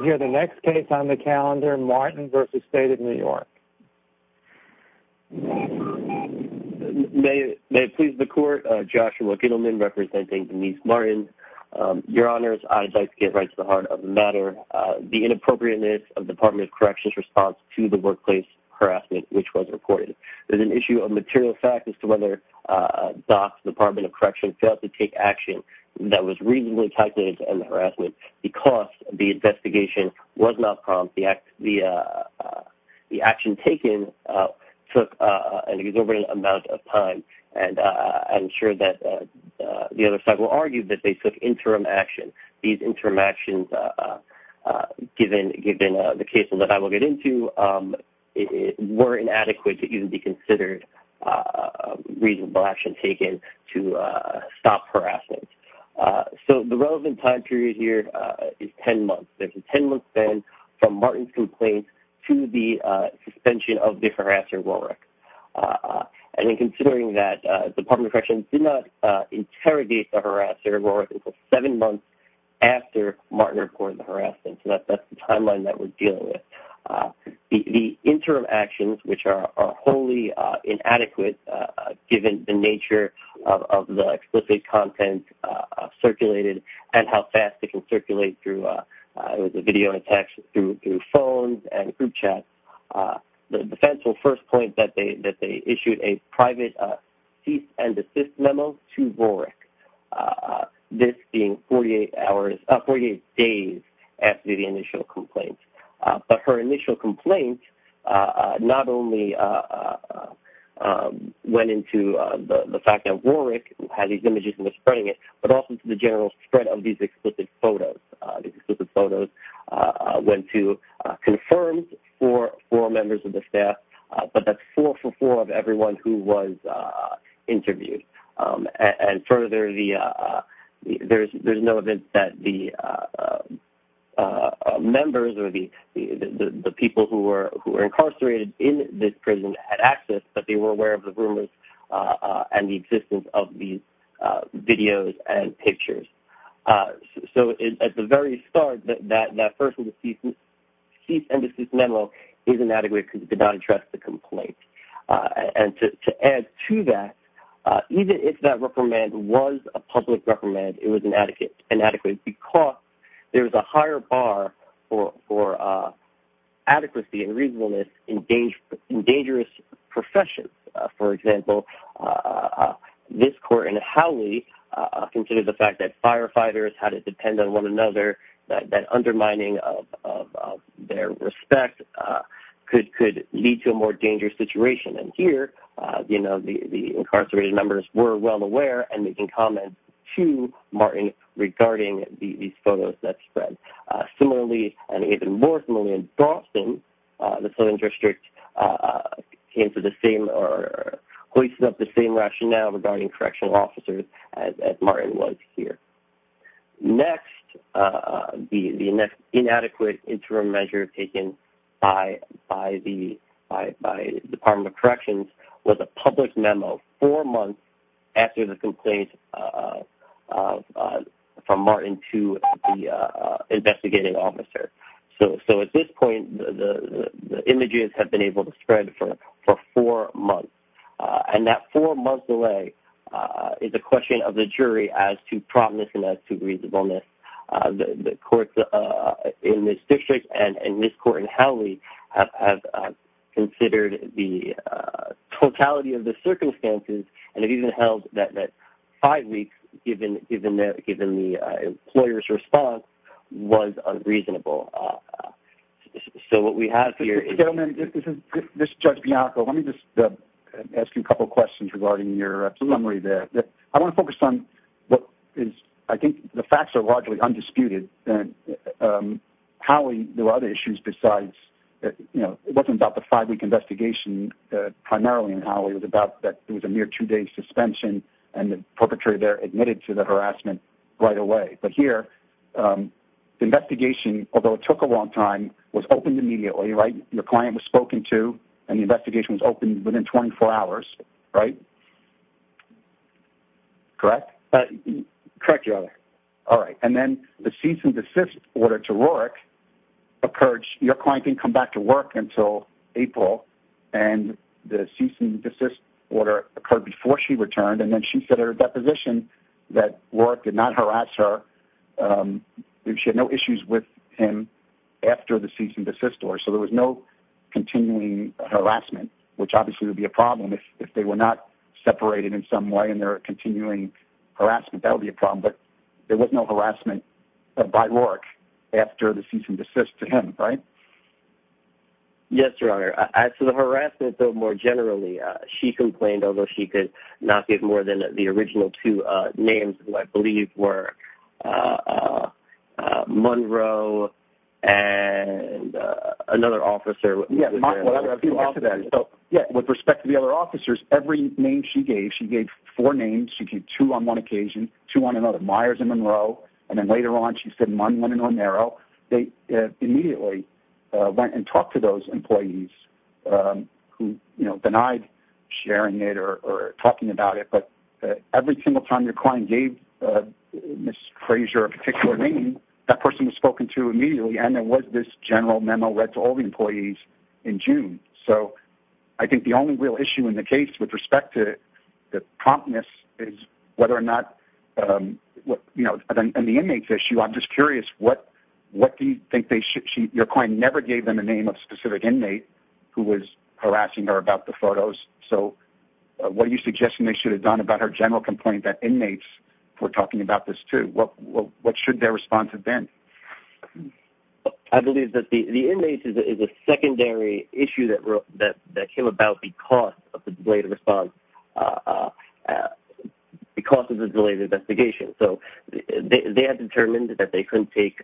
May it please the Court, Joshua Gittleman representing Denise Martin. Your Honors, I'd like to get right to the heart of the matter. The inappropriateness of the Department of Corrections' response to the workplace harassment which was reported. There's an issue of material fact as to whether DOC, the Department of Corrections, failed to take action that was reasonably calculated to end the harassment because the investigation was not prompt. The action taken took an exorbitant amount of time and I'm sure that the other side will argue that they took interim action. These interim actions, given the cases that I will get into, were inadequate to even be So the relevant time period here is 10 months. There's a 10-month span from Martin's complaint to the suspension of the harassment of Warwick. And in considering that the Department of Corrections did not interrogate the harasser of Warwick until seven months after Martin reported the harassment. So that's the timeline that we're dealing with. The interim actions, which are wholly inadequate given the nature of the explicit content circulated and how fast it can circulate through the video and text, through phones and group chats, the defense will first point that they issued a private cease and desist memo to Warwick, this being 48 days after the initial complaint. But her initial complaint not only went into the fact that Warwick had these images and was spreading it, but also to the general spread of these explicit photos. These explicit photos went to confirmed four members of the staff, but that's four for four of everyone who was interviewed. And further, there's no event that the members or the people who were incarcerated in this prison had access, but they were aware of the rumors and the existence of these videos and pictures. So at the very start, that first cease and desist memo is inadequate because it did not address the complaint. And to add to that, even if that reprimand was a public reprimand, it was inadequate because there's a higher bar for adequacy and reasonableness in dangerous professions. For example, this court in Howley considered the fact that firefighters had to depend on another, that undermining of their respect could lead to a more dangerous situation. And here, you know, the incarcerated members were well aware and making comments to Martin regarding these photos that spread. Similarly, and even more similarly in Boston, the Southern District came to the same or hoisted up the same rationale regarding correctional officers as Martin was here. Next, the inadequate interim measure taken by the Department of Corrections was a public memo four months after the complaint from Martin to the investigating officer. So at this point, the images have been able to spread for four months. And that four months delay is a question of the jury as to promptness and as to reasonableness. The courts in this district and this court in Howley have considered the totality of the circumstances and have even held that five weeks, given the employer's response, was unreasonable. So what we have here... This is Judge Bianco. Let me just ask you a couple of questions regarding your preliminary there. I want to focus on what is... I think the facts are largely undisputed. Howley, there were other issues besides, you know, it wasn't about the five-week investigation primarily in Howley. It was about that there was a mere two-day suspension and the perpetrator there admitted to the harassment right away. But here, the investigation, although it took a long time, was opened immediately, right? Your client was spoken to, and the investigation was opened within 24 hours, right? Correct? Correct, Your Honor. All right. And then the cease and desist order to Rorick occurred... Your client didn't come back to work until April, and the cease and desist order occurred before she returned. And then she said at her deposition that Rorick did not harass her. She had no issues with him after the cease and desist order. So there was no continuing harassment, which obviously would be a problem if they were not separated in some way and there were continuing harassment. That would be a problem. But there was no harassment by Rorick after the cease and desist to him, right? Yes, Your Honor. As for the harassment, though, more generally, she complained, although she could not get more than the original two names, who I believe were Monroe and another officer... With respect to the other officers, every name she gave, she gave four names. She gave two on one occasion, two on another, Myers and Monroe. And then later on, she said Munn, Munn, and Romero. They immediately went and talked to those employees who denied sharing it or talking about it. But every single time your client gave Ms. Frazier a particular name, that person was spoken to immediately. And there was this general memo read to all the employees in June. So I think the only real issue in the case with respect to the promptness is whether or not... And the inmates issue, I'm just curious, what do you think they should... Your client never gave them a name of specific inmate who was harassing her about the photos. So what are you suggesting they should have done about her general complaint that inmates were talking about this too? What should their response have been? I believe that the inmates is a secondary issue that came about because of the delayed response, because of the delayed investigation. So they had determined that they couldn't take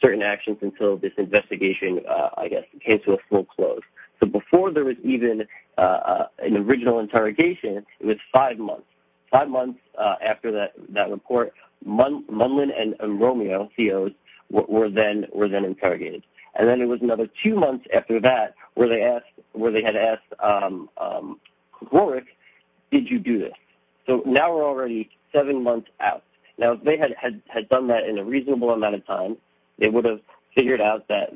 certain actions until this investigation, I guess, came to a full close. So before there was even an original interrogation, it was five months. Five months after that report, Munlin and Romero, COs, were then interrogated. And then it was another two months after that where they had asked Rorick, did you do this? So now we're already seven months out. Now if they had done that in a reasonable amount of time, they would have figured out that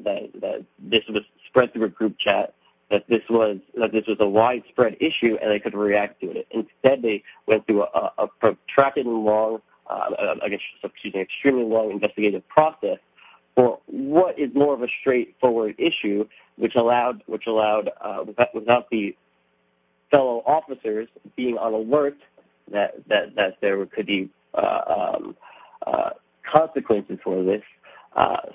this was spread through a group chat, that this was a widespread issue, and they could react to it. Instead, they went through a protracted and long, I guess, excuse me, extremely long investigative process for what is more of a straightforward issue, which allowed, without the fellow officers being on alert, that there could be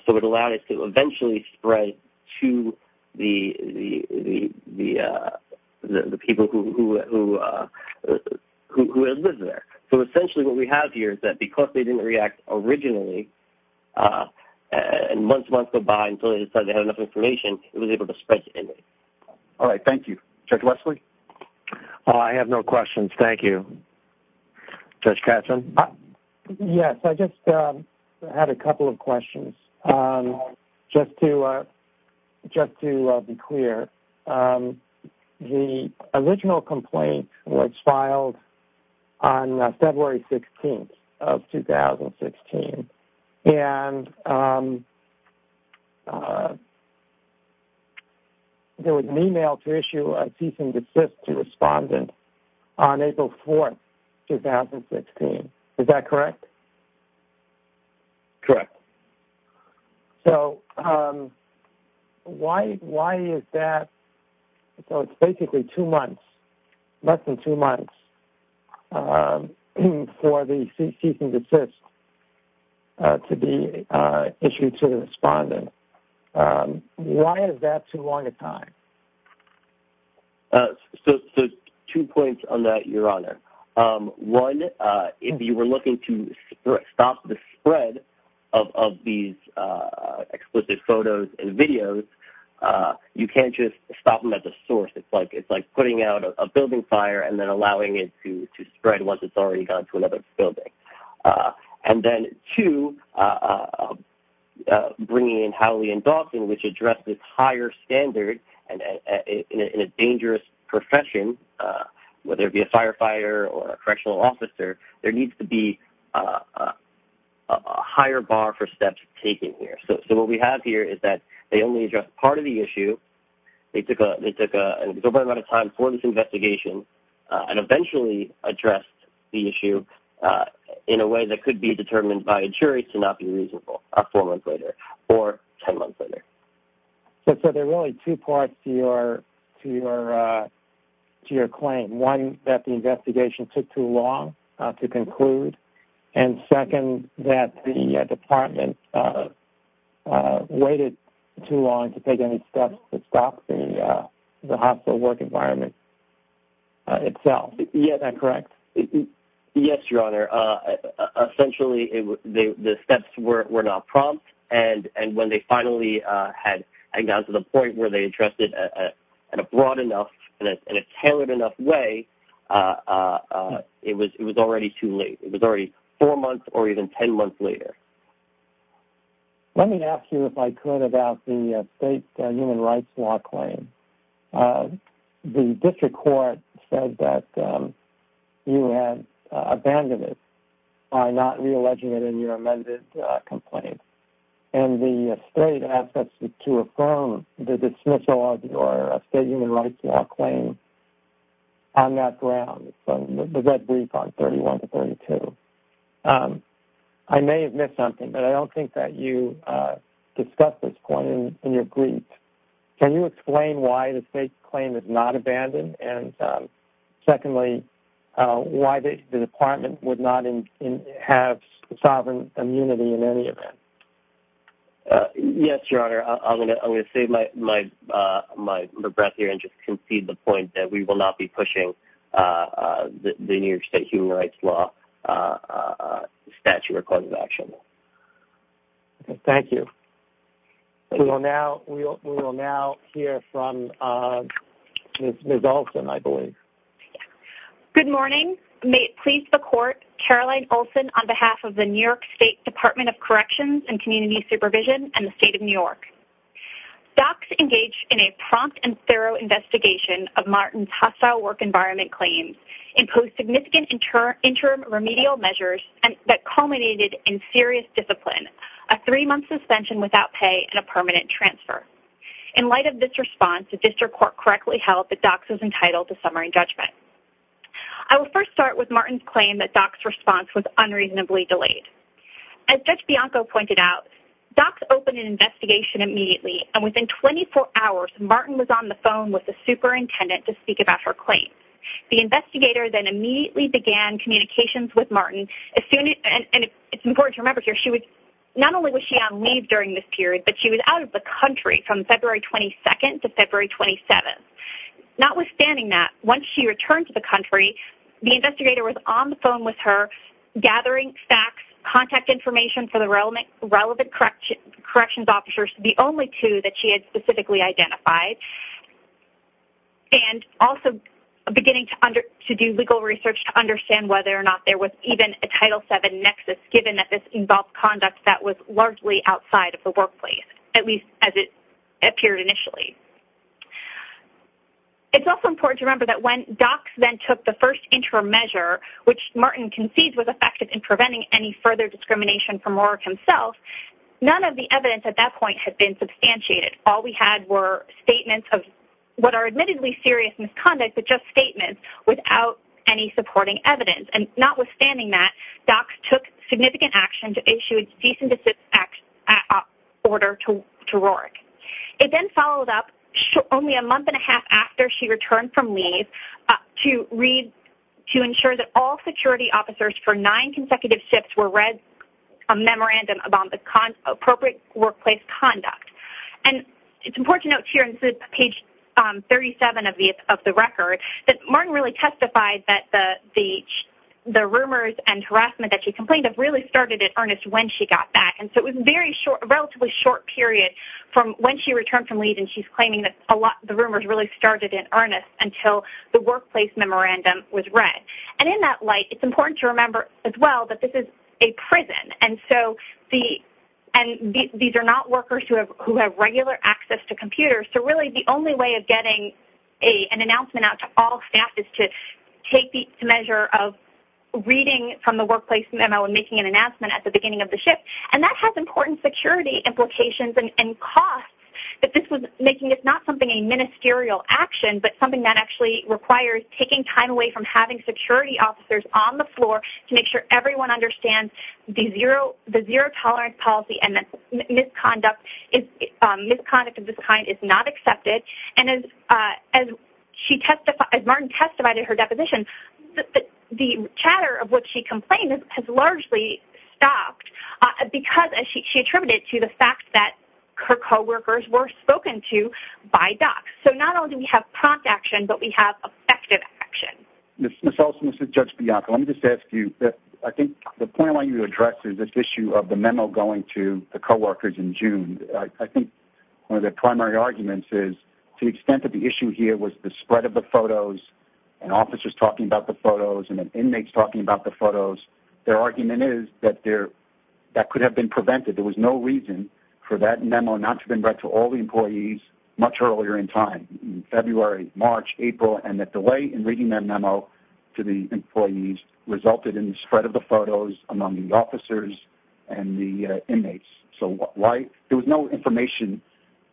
so it allowed it to eventually spread to the people who had lived there. So essentially, what we have here is that because they didn't react originally, and months and months go by until they decided they had enough information, it was able to spread to anybody. All right, thank you. Judge Wesley? I have no questions, thank you. Judge Katzen? Yes, I just had a couple of questions, just to be clear. The original complaint was filed on February 16th of 2016, and there was an email to issue a cease and desist to respondent on April 4th, 2016. Is that correct? Correct. So why is that? So it's basically two months, less than two months, for the cease and desist to be issued to the respondent. Why is that too long a time? So two points on that, Your Honor. One, if you were looking to stop the spread of these explicit photos and videos, you can't just stop them at the source. It's like putting out a building fire and then allowing it to spread once it's already gone to another building. And then two, bringing in Howley and Dawson, which address this higher standard and in a dangerous profession, whether it be a firefighter or a correctional officer, there needs to be a higher bar for steps taken here. So what we have here is that they only addressed part of the issue. They took an exorbitant amount of time for this investigation and eventually addressed the issue in a way that could be determined by a jury to not be reasonable four months later or 10 months later. So there are really two parts to your claim. One, that the investigation took too long to conclude. And second, that the Department waited too long to take any steps to stop the hospital work environment itself. Is that correct? Yes, Your Honor. Essentially, the steps were not prompt. And when they finally had gotten to the point where they addressed it in a broad enough and a tailored enough way, it was already too late. It was already four months or even 10 months later. Let me ask you, if I could, about the state human rights law claim. The district court said that you had abandoned it by not re-alleging it in your amended complaint. And the state asked us to affirm the dismissal of your state human rights law claim on that ground, the red brief on 31 to 32. I may have missed something, but I don't think that you discussed this point in your brief. Can you explain why the state claim is not abandoned? And secondly, why the Department would not have sovereign immunity in any event? Yes, Your Honor. I'm going to save my breath here and just concede the point that we will not be pushing the New York state human rights law statute or court of action. Thank you. We will now hear from Ms. Olson, I believe. Good morning. May it please the court, Caroline Olson on behalf of the New York State Department of Corrections and Community Supervision and the state of New York. Docs engaged in a prompt and thorough investigation of Martin's hostile work environment claims, imposed significant interim remedial measures that culminated in serious discipline, a three-month suspension without pay, and a permanent transfer. In light of this response, the district court correctly held that Docs was entitled to summary judgment. I will first start with Martin's claim that Docs' response was unreasonably delayed. As Judge Bianco pointed out, Docs opened an investigation immediately, and within 24 hours, Martin was on the phone with the superintendent to speak about her claim. The investigator then immediately began communications with Martin, and it's important to remember here, not only was she on leave during this period, but she was out of the country from February 22nd to February 27th. Notwithstanding that, once she returned to the country, the investigator was on the phone with her gathering facts, contact information for the relevant corrections officers, the only two that she had specifically identified, and also beginning to do legal research to understand whether or not there was even a Title VII nexus, given that this involved conduct that was largely outside of the workplace, at least as it appeared initially. It's also important to remember that when Docs then took the first interim measure, which Martin concedes was effective in preventing any further discrimination from Rourke himself, none of the evidence at that point had been substantiated. All we had were statements of what are admittedly serious misconduct, but just statements without any supporting evidence, and notwithstanding that, Docs took significant action to issue a decentification order to Rourke. It then followed up only a month and a half after she returned from leave to read, to ensure that all security officers for nine consecutive shifts were read a memorandum about the appropriate workplace conduct. It's important to note here on page 37 of the record that Martin really testified that the rumors and harassment that she complained of really started in earnest when she got back. And so it was a relatively short period from when she returned from leave, and she's claiming that the rumors really started in earnest until the workplace memorandum was read. And in that light, it's important to remember as well that this is a prison, and so the, and these are not workers who have regular access to computers, so really the only way of getting an announcement out to all staff is to take the measure of reading from the workplace memo and making an announcement at the beginning of the shift. And that has important security implications and costs that this was making. It's not something, a ministerial action, but something that actually requires taking time away from having security officers on the floor to make sure everyone understands the zero tolerance policy and that misconduct of this kind is not accepted. And as she testified, as Martin testified in her deposition, the chatter of what she complained of has largely stopped because, as she attributed to, the fact that her coworkers were spoken to by docs. So not only do we have prompt action, but we have effective action. Ms. Olson, this is Judge Bianco. Let me just ask you, I think the point I want you to address is this issue of the memo going to the coworkers in June. I think one of the primary arguments is to the extent that the issue here was the spread of the photos and officers talking about the photos and the inmates talking about the photos, their argument is that there, that could have been prevented. There was no reason for that memo not to have been read to all the employees much earlier in time, February, March, April, and that delay in reading that memo to the employees resulted in the spread of the photos among the officers and the inmates. So why, there was no information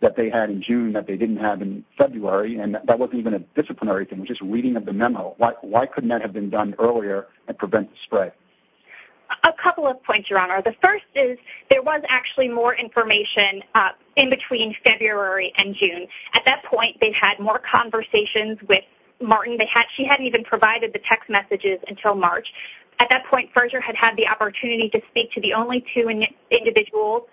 that they had in June that they didn't have in February, and that wasn't even a disciplinary thing, just reading of the memo. Why couldn't that have been done earlier and prevent the spread? A couple of points, Your Honor. The first is there was actually more information in between February and June. At that point, they had more conversations with Martin. She hadn't even provided the text messages until March. At that point, Fersher had had the opportunity to speak to the only two individuals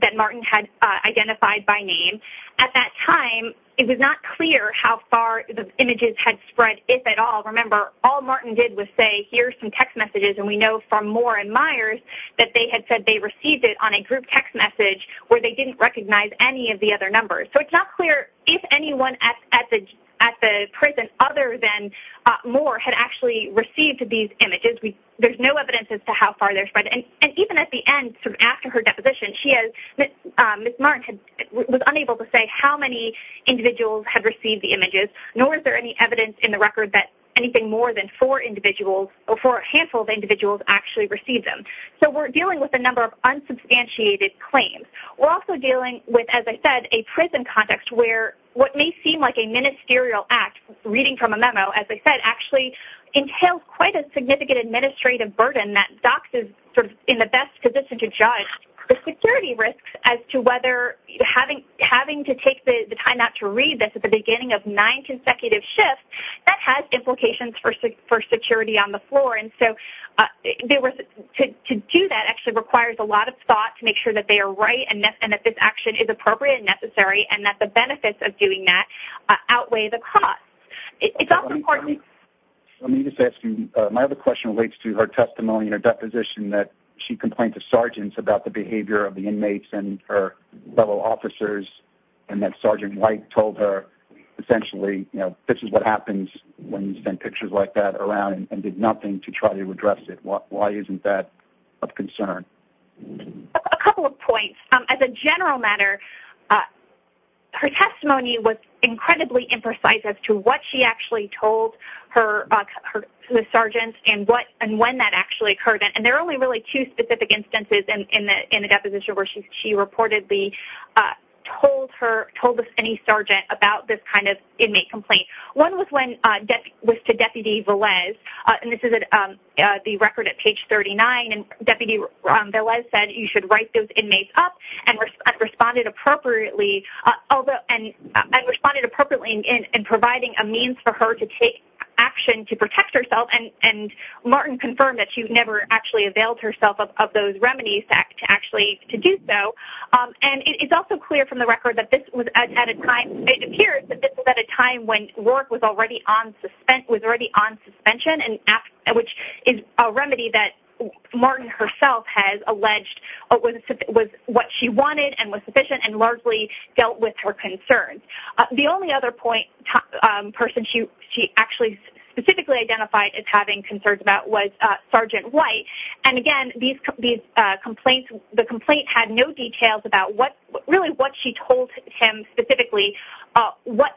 that Martin had identified by name. At that time, it was not clear how far the images had spread, if at all. Remember, all Martin did was say, here's some text messages, and we know from Moore and Myers that they had said they received it on a group text message where they didn't recognize any of the other numbers. So it's not clear if anyone at the prison other than Moore had actually received these images. There's no evidence as to how far they spread. And even at the end, after her deposition, Ms. Martin was unable to say how many individuals had received the images, nor is there any evidence in the record that anything more than four individuals or a handful of individuals actually received them. So we're dealing with a number of unsubstantiated claims. We're also dealing with, as I said, a prison context where what may seem like a ministerial act, reading from a memo, as I said, actually entails quite a significant administrative burden that DOCS is sort of in the best position to judge the security risks as to whether having to take the time out to read this at the beginning of nine consecutive shifts, that has implications for security on the floor. And so to do that actually requires a lot of thought to make sure that they are right and that this action is appropriate and necessary and that the benefits of doing that outweigh the costs. It's also important... Let me just ask you, my other question relates to her testimony in her deposition that she complained to sergeants about the behavior of the inmates and her level officers and that Sergeant White told her essentially, you know, this is what happens when you send pictures like that around and did nothing to try to address it. Why isn't that of concern? A couple of points. As a general matter, her testimony was incredibly imprecise as to what she actually told her sergeants and when that actually occurred. And there are only really two specific instances in the deposition where she reportedly told any sergeant about this kind of inmate complaint. One was to Deputy Velez, and this is the record at page 39, and Deputy Velez said you should write those inmates up and responded appropriately in providing a means for her to take action to protect herself. And Martin confirmed that she never actually availed herself of those remedies to actually do so. And it's also clear from the record that this was at a time... It appears that this was at a time when work was already on suspension, which is a remedy that Martin herself has alleged was what she wanted and was sufficient and largely dealt with her concerns. The only other person she actually specifically identified as having concerns about was Sergeant White. And again, the complaint had no details about really what she told him specifically,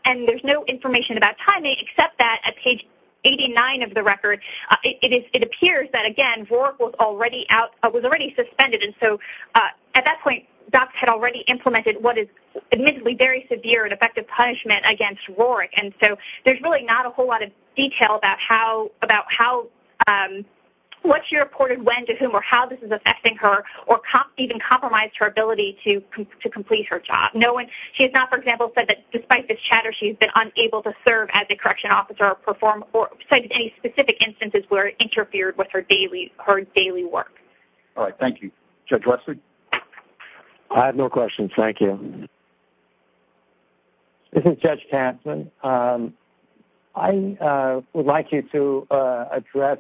and there's no information about timing except that at page 89 of the record, it appears that, again, RORC was already suspended. And so at that point, docs had already implemented what is admittedly very severe and effective punishment against RORC. And so there's really not a whole lot of detail about what she reported, when, to whom, or how this is affecting her or even compromised her ability to complete her job. No one... She has not, for example, said that despite this chatter, she's been unable to serve as a correctional officer or perform... Or cite any specific instances where it interfered with her daily work. All right. Thank you. Judge Westley? I have no questions. Thank you. This is Judge Kaplan. I would like you to address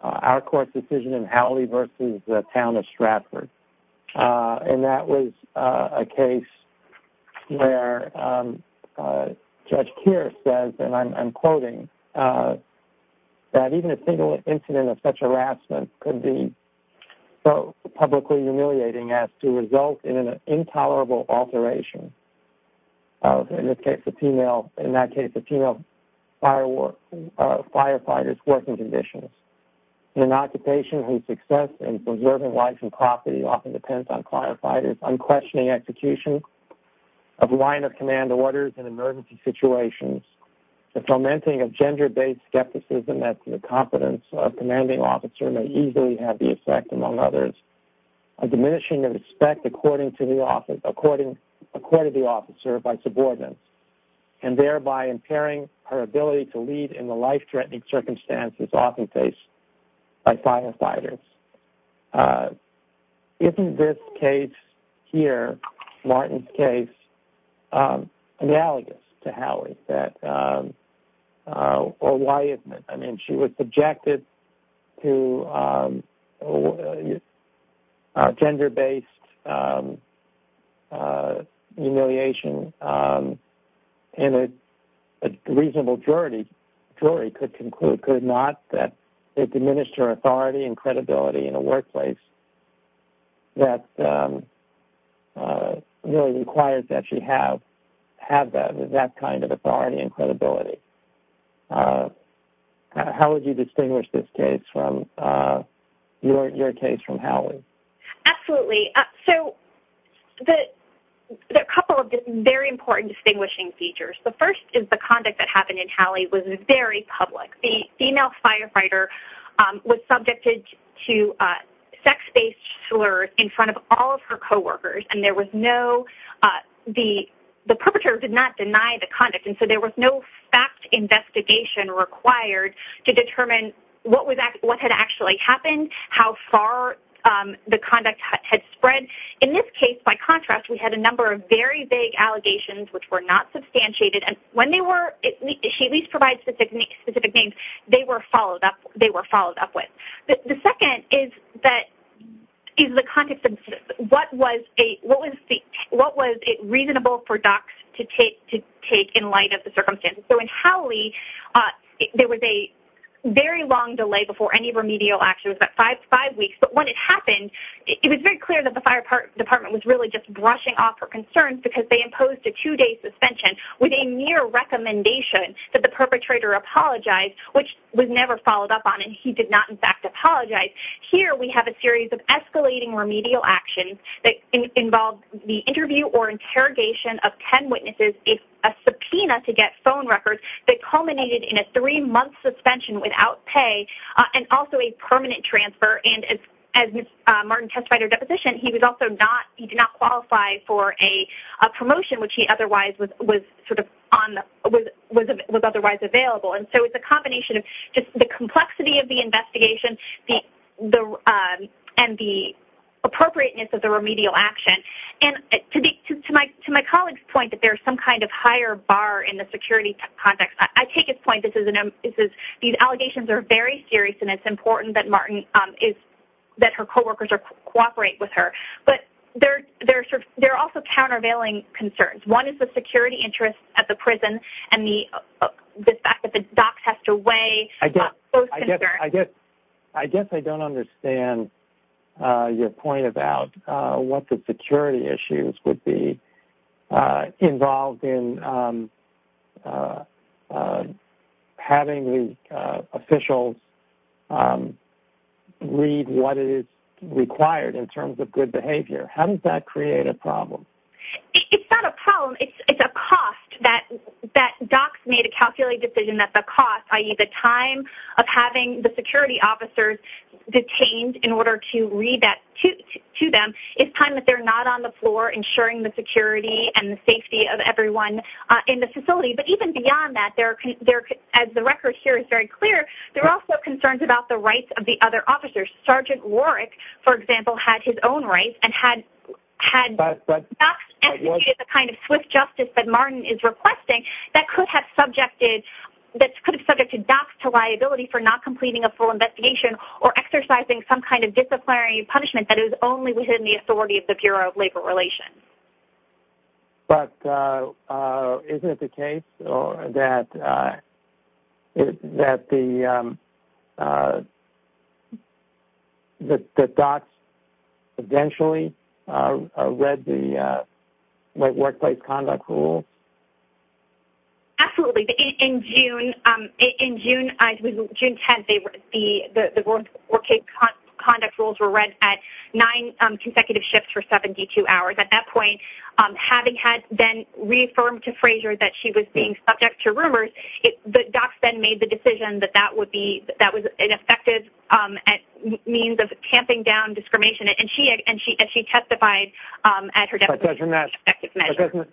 our court's decision in Howley versus the town of Stratford. And that was a case where Judge Keir says, and I'm quoting, that even a single incident of such harassment could be so publicly humiliating as to result in an intolerable alteration of, in this case, in that case, a female firefighter's working conditions. In an occupation whose success in preserving life and property often depends on firefighters' unquestioning execution of line-of-command orders in emergency situations, the fomenting of gender-based skepticism as to the competence of a commanding officer may easily have the effect, among others, a diminishing of respect according to the officer by subordinates, and thereby impairing her ability to lead in the life-threatening circumstances often faced by firefighters. Isn't this case here, Martin's case, analogous to Howley? Or why isn't it? I mean, she was subjected to gender-based humiliation, and a reasonable jury could conclude, could it not, that it diminished her authority and credibility in a workplace that really requires that she have that kind of authority and credibility. How would you distinguish this case from your case from Howley? Absolutely. So, there are a couple of very important distinguishing features. The first is the conduct that happened in Howley was very public. The female firefighter was subjected to sex-based slurs in front of all of her co-workers, and the perpetrator did not deny the conduct, and so there was no fact investigation required to determine what had actually happened, how far the conduct had spread. In this case, by contrast, we had a number of very vague allegations which were not substantiated, and when they were, she at least provides specific names, they were followed up with. The second is the context of what was it reasonable for docs to take in light of the circumstances. So, in Howley, there was a very long delay before any remedial action. It was about five weeks, but when it happened, it was very clear that the fire department was really just brushing off her concerns because they imposed a two-day suspension with a mere recommendation that the perpetrator apologize, which was never followed up on, and he did not in fact apologize. Here, we have a series of escalating remedial actions that involved the interview or interrogation of 10 witnesses, a subpoena to get phone records that culminated in a three-month suspension without pay, and also a permanent transfer, and as Ms. Martin testified in her deposition, he did not qualify for a promotion which he otherwise was otherwise available. And so, it's a combination of just the complexity of the investigation and the appropriateness of the remedial action, and to my colleague's point that there's some kind of higher bar in the security context, I take his point. These allegations are very serious, and it's important that her co-workers cooperate with her, but there are also countervailing concerns. One is the security interest at the prison and the fact that the docs have to weigh both concerns. I guess I don't understand your point about what the security issues would be involved in having the officials read what is required in terms of good behavior. How does that create a problem? It's not a problem. It's a cost that docs made a calculated decision that the cost, i.e., the time of having the security officers detained in order to read that to them, is time that they're not on the floor ensuring the security and the safety of everyone in the prison. Even beyond that, as the record here is very clear, there are also concerns about the rights of the other officers. Sgt. Rorick, for example, had his own rights and had docs estimated the kind of swift justice that Martin is requesting that could have subjected docs to liability for not completing a full investigation or exercising some kind of disciplinary punishment that is only within the authority of the Bureau of Labor Relations. But isn't it the case, that the docs eventually read the workplace conduct rule? Absolutely. In June 10th, the workplace conduct rules were read at nine consecutive shifts for rumors. The docs then made the decision that that was an effective means of tamping down discrimination, and she testified at her deposition.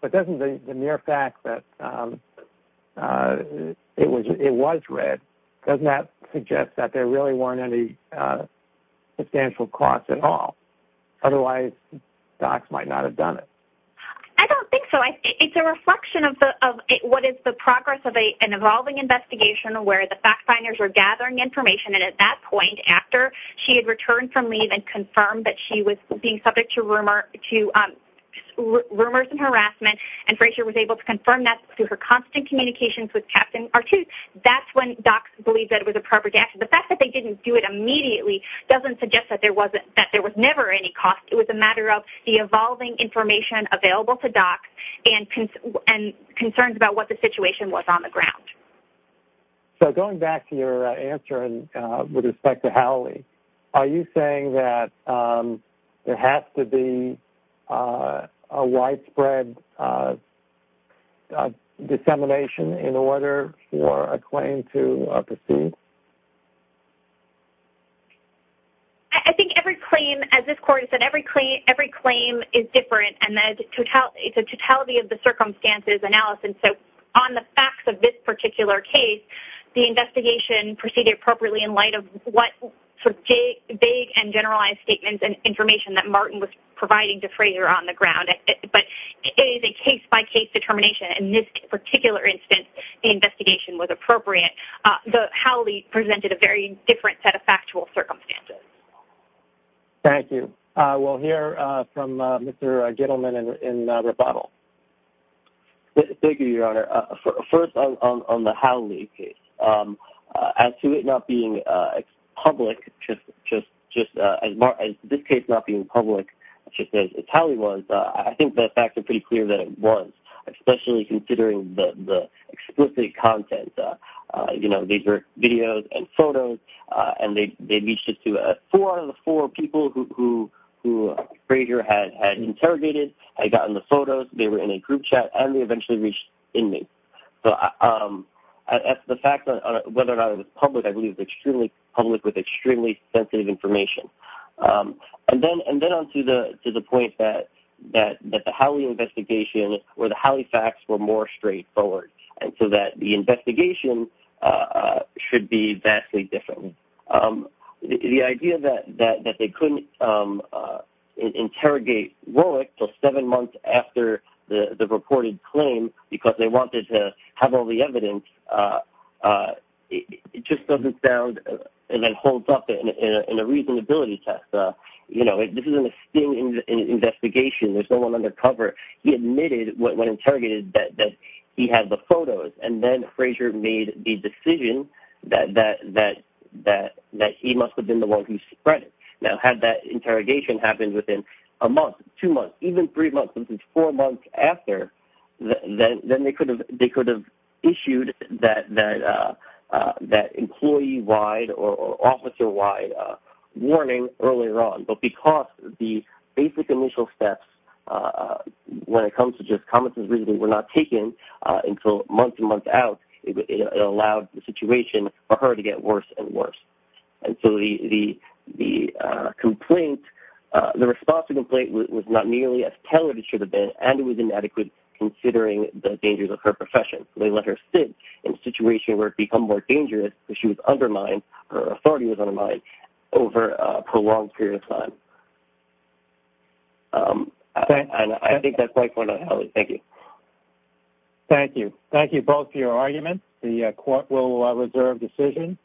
But doesn't the mere fact that it was read, doesn't that suggest that there really weren't any substantial costs at all? Otherwise, docs might not have done it. I don't think so. It's a reflection what is the progress of an evolving investigation where the fact finders were gathering information, and at that point, after she had returned from leave and confirmed that she was being subject to rumors and harassment, and Frasier was able to confirm that through her constant communications with Captain R2, that's when docs believed that it was appropriate to act. The fact that they didn't do it immediately doesn't suggest that there was never any cost. It was a matter of the evolving information available to docs, and concerns about what the situation was on the ground. So going back to your answer with respect to Howley, are you saying that there has to be a widespread dissemination in order for a claim to proceed? I think every claim, as this court has said, every claim is different, and it's a totality of the circumstances analysis. So on the facts of this particular case, the investigation proceeded appropriately in light of what vague and generalized statements and information that Martin was providing to Frasier on the ground. But it is a case-by-case determination. In this particular instance, the investigation was appropriate. Howley presented a very different set of factual circumstances. Thank you. We'll hear from Mr. Gittleman in rebuttal. Thank you, Your Honor. First, on the Howley case, as to it not being public, just as this case not being public, just as Howley was, I think the explicit content, you know, these are videos and photos, and they reached out to four of the four people who Frasier had interrogated, had gotten the photos, they were in a group chat, and they eventually reached inmates. So as to the fact whether or not it was public, I believe it was public with extremely sensitive information. And then on to the point that the Howley investigation or the Howley facts were more straightforward. And so that the investigation should be vastly different. The idea that they couldn't interrogate Rowick until seven months after the reported claim because they wanted to have all the evidence, it just doesn't sound and then holds up in a reasonability test. You know, this is an investigation. There's no one undercover. He admitted when interrogated that he had the photos, and then Frasier made the decision that he must have been the one who spread it. Now, had that interrogation happened within a month, two months, even three months, this is four months after, then they could have issued that employee-wide or officer-wide warning earlier on. But because the basic initial steps when it comes to just comments and reasoning were not taken until months and months out, it allowed the situation for her to get worse and worse. And so the response to the complaint was not nearly as tailored as it should have been, and it was inadequate considering the dangers of her profession. They let her sit in a situation where it became more dangerous because she was undermined, her authority was undermined over a prolonged period of time. And I think that's my point. Thank you. Thank you. Thank you both for your arguments. The court will reserve decision.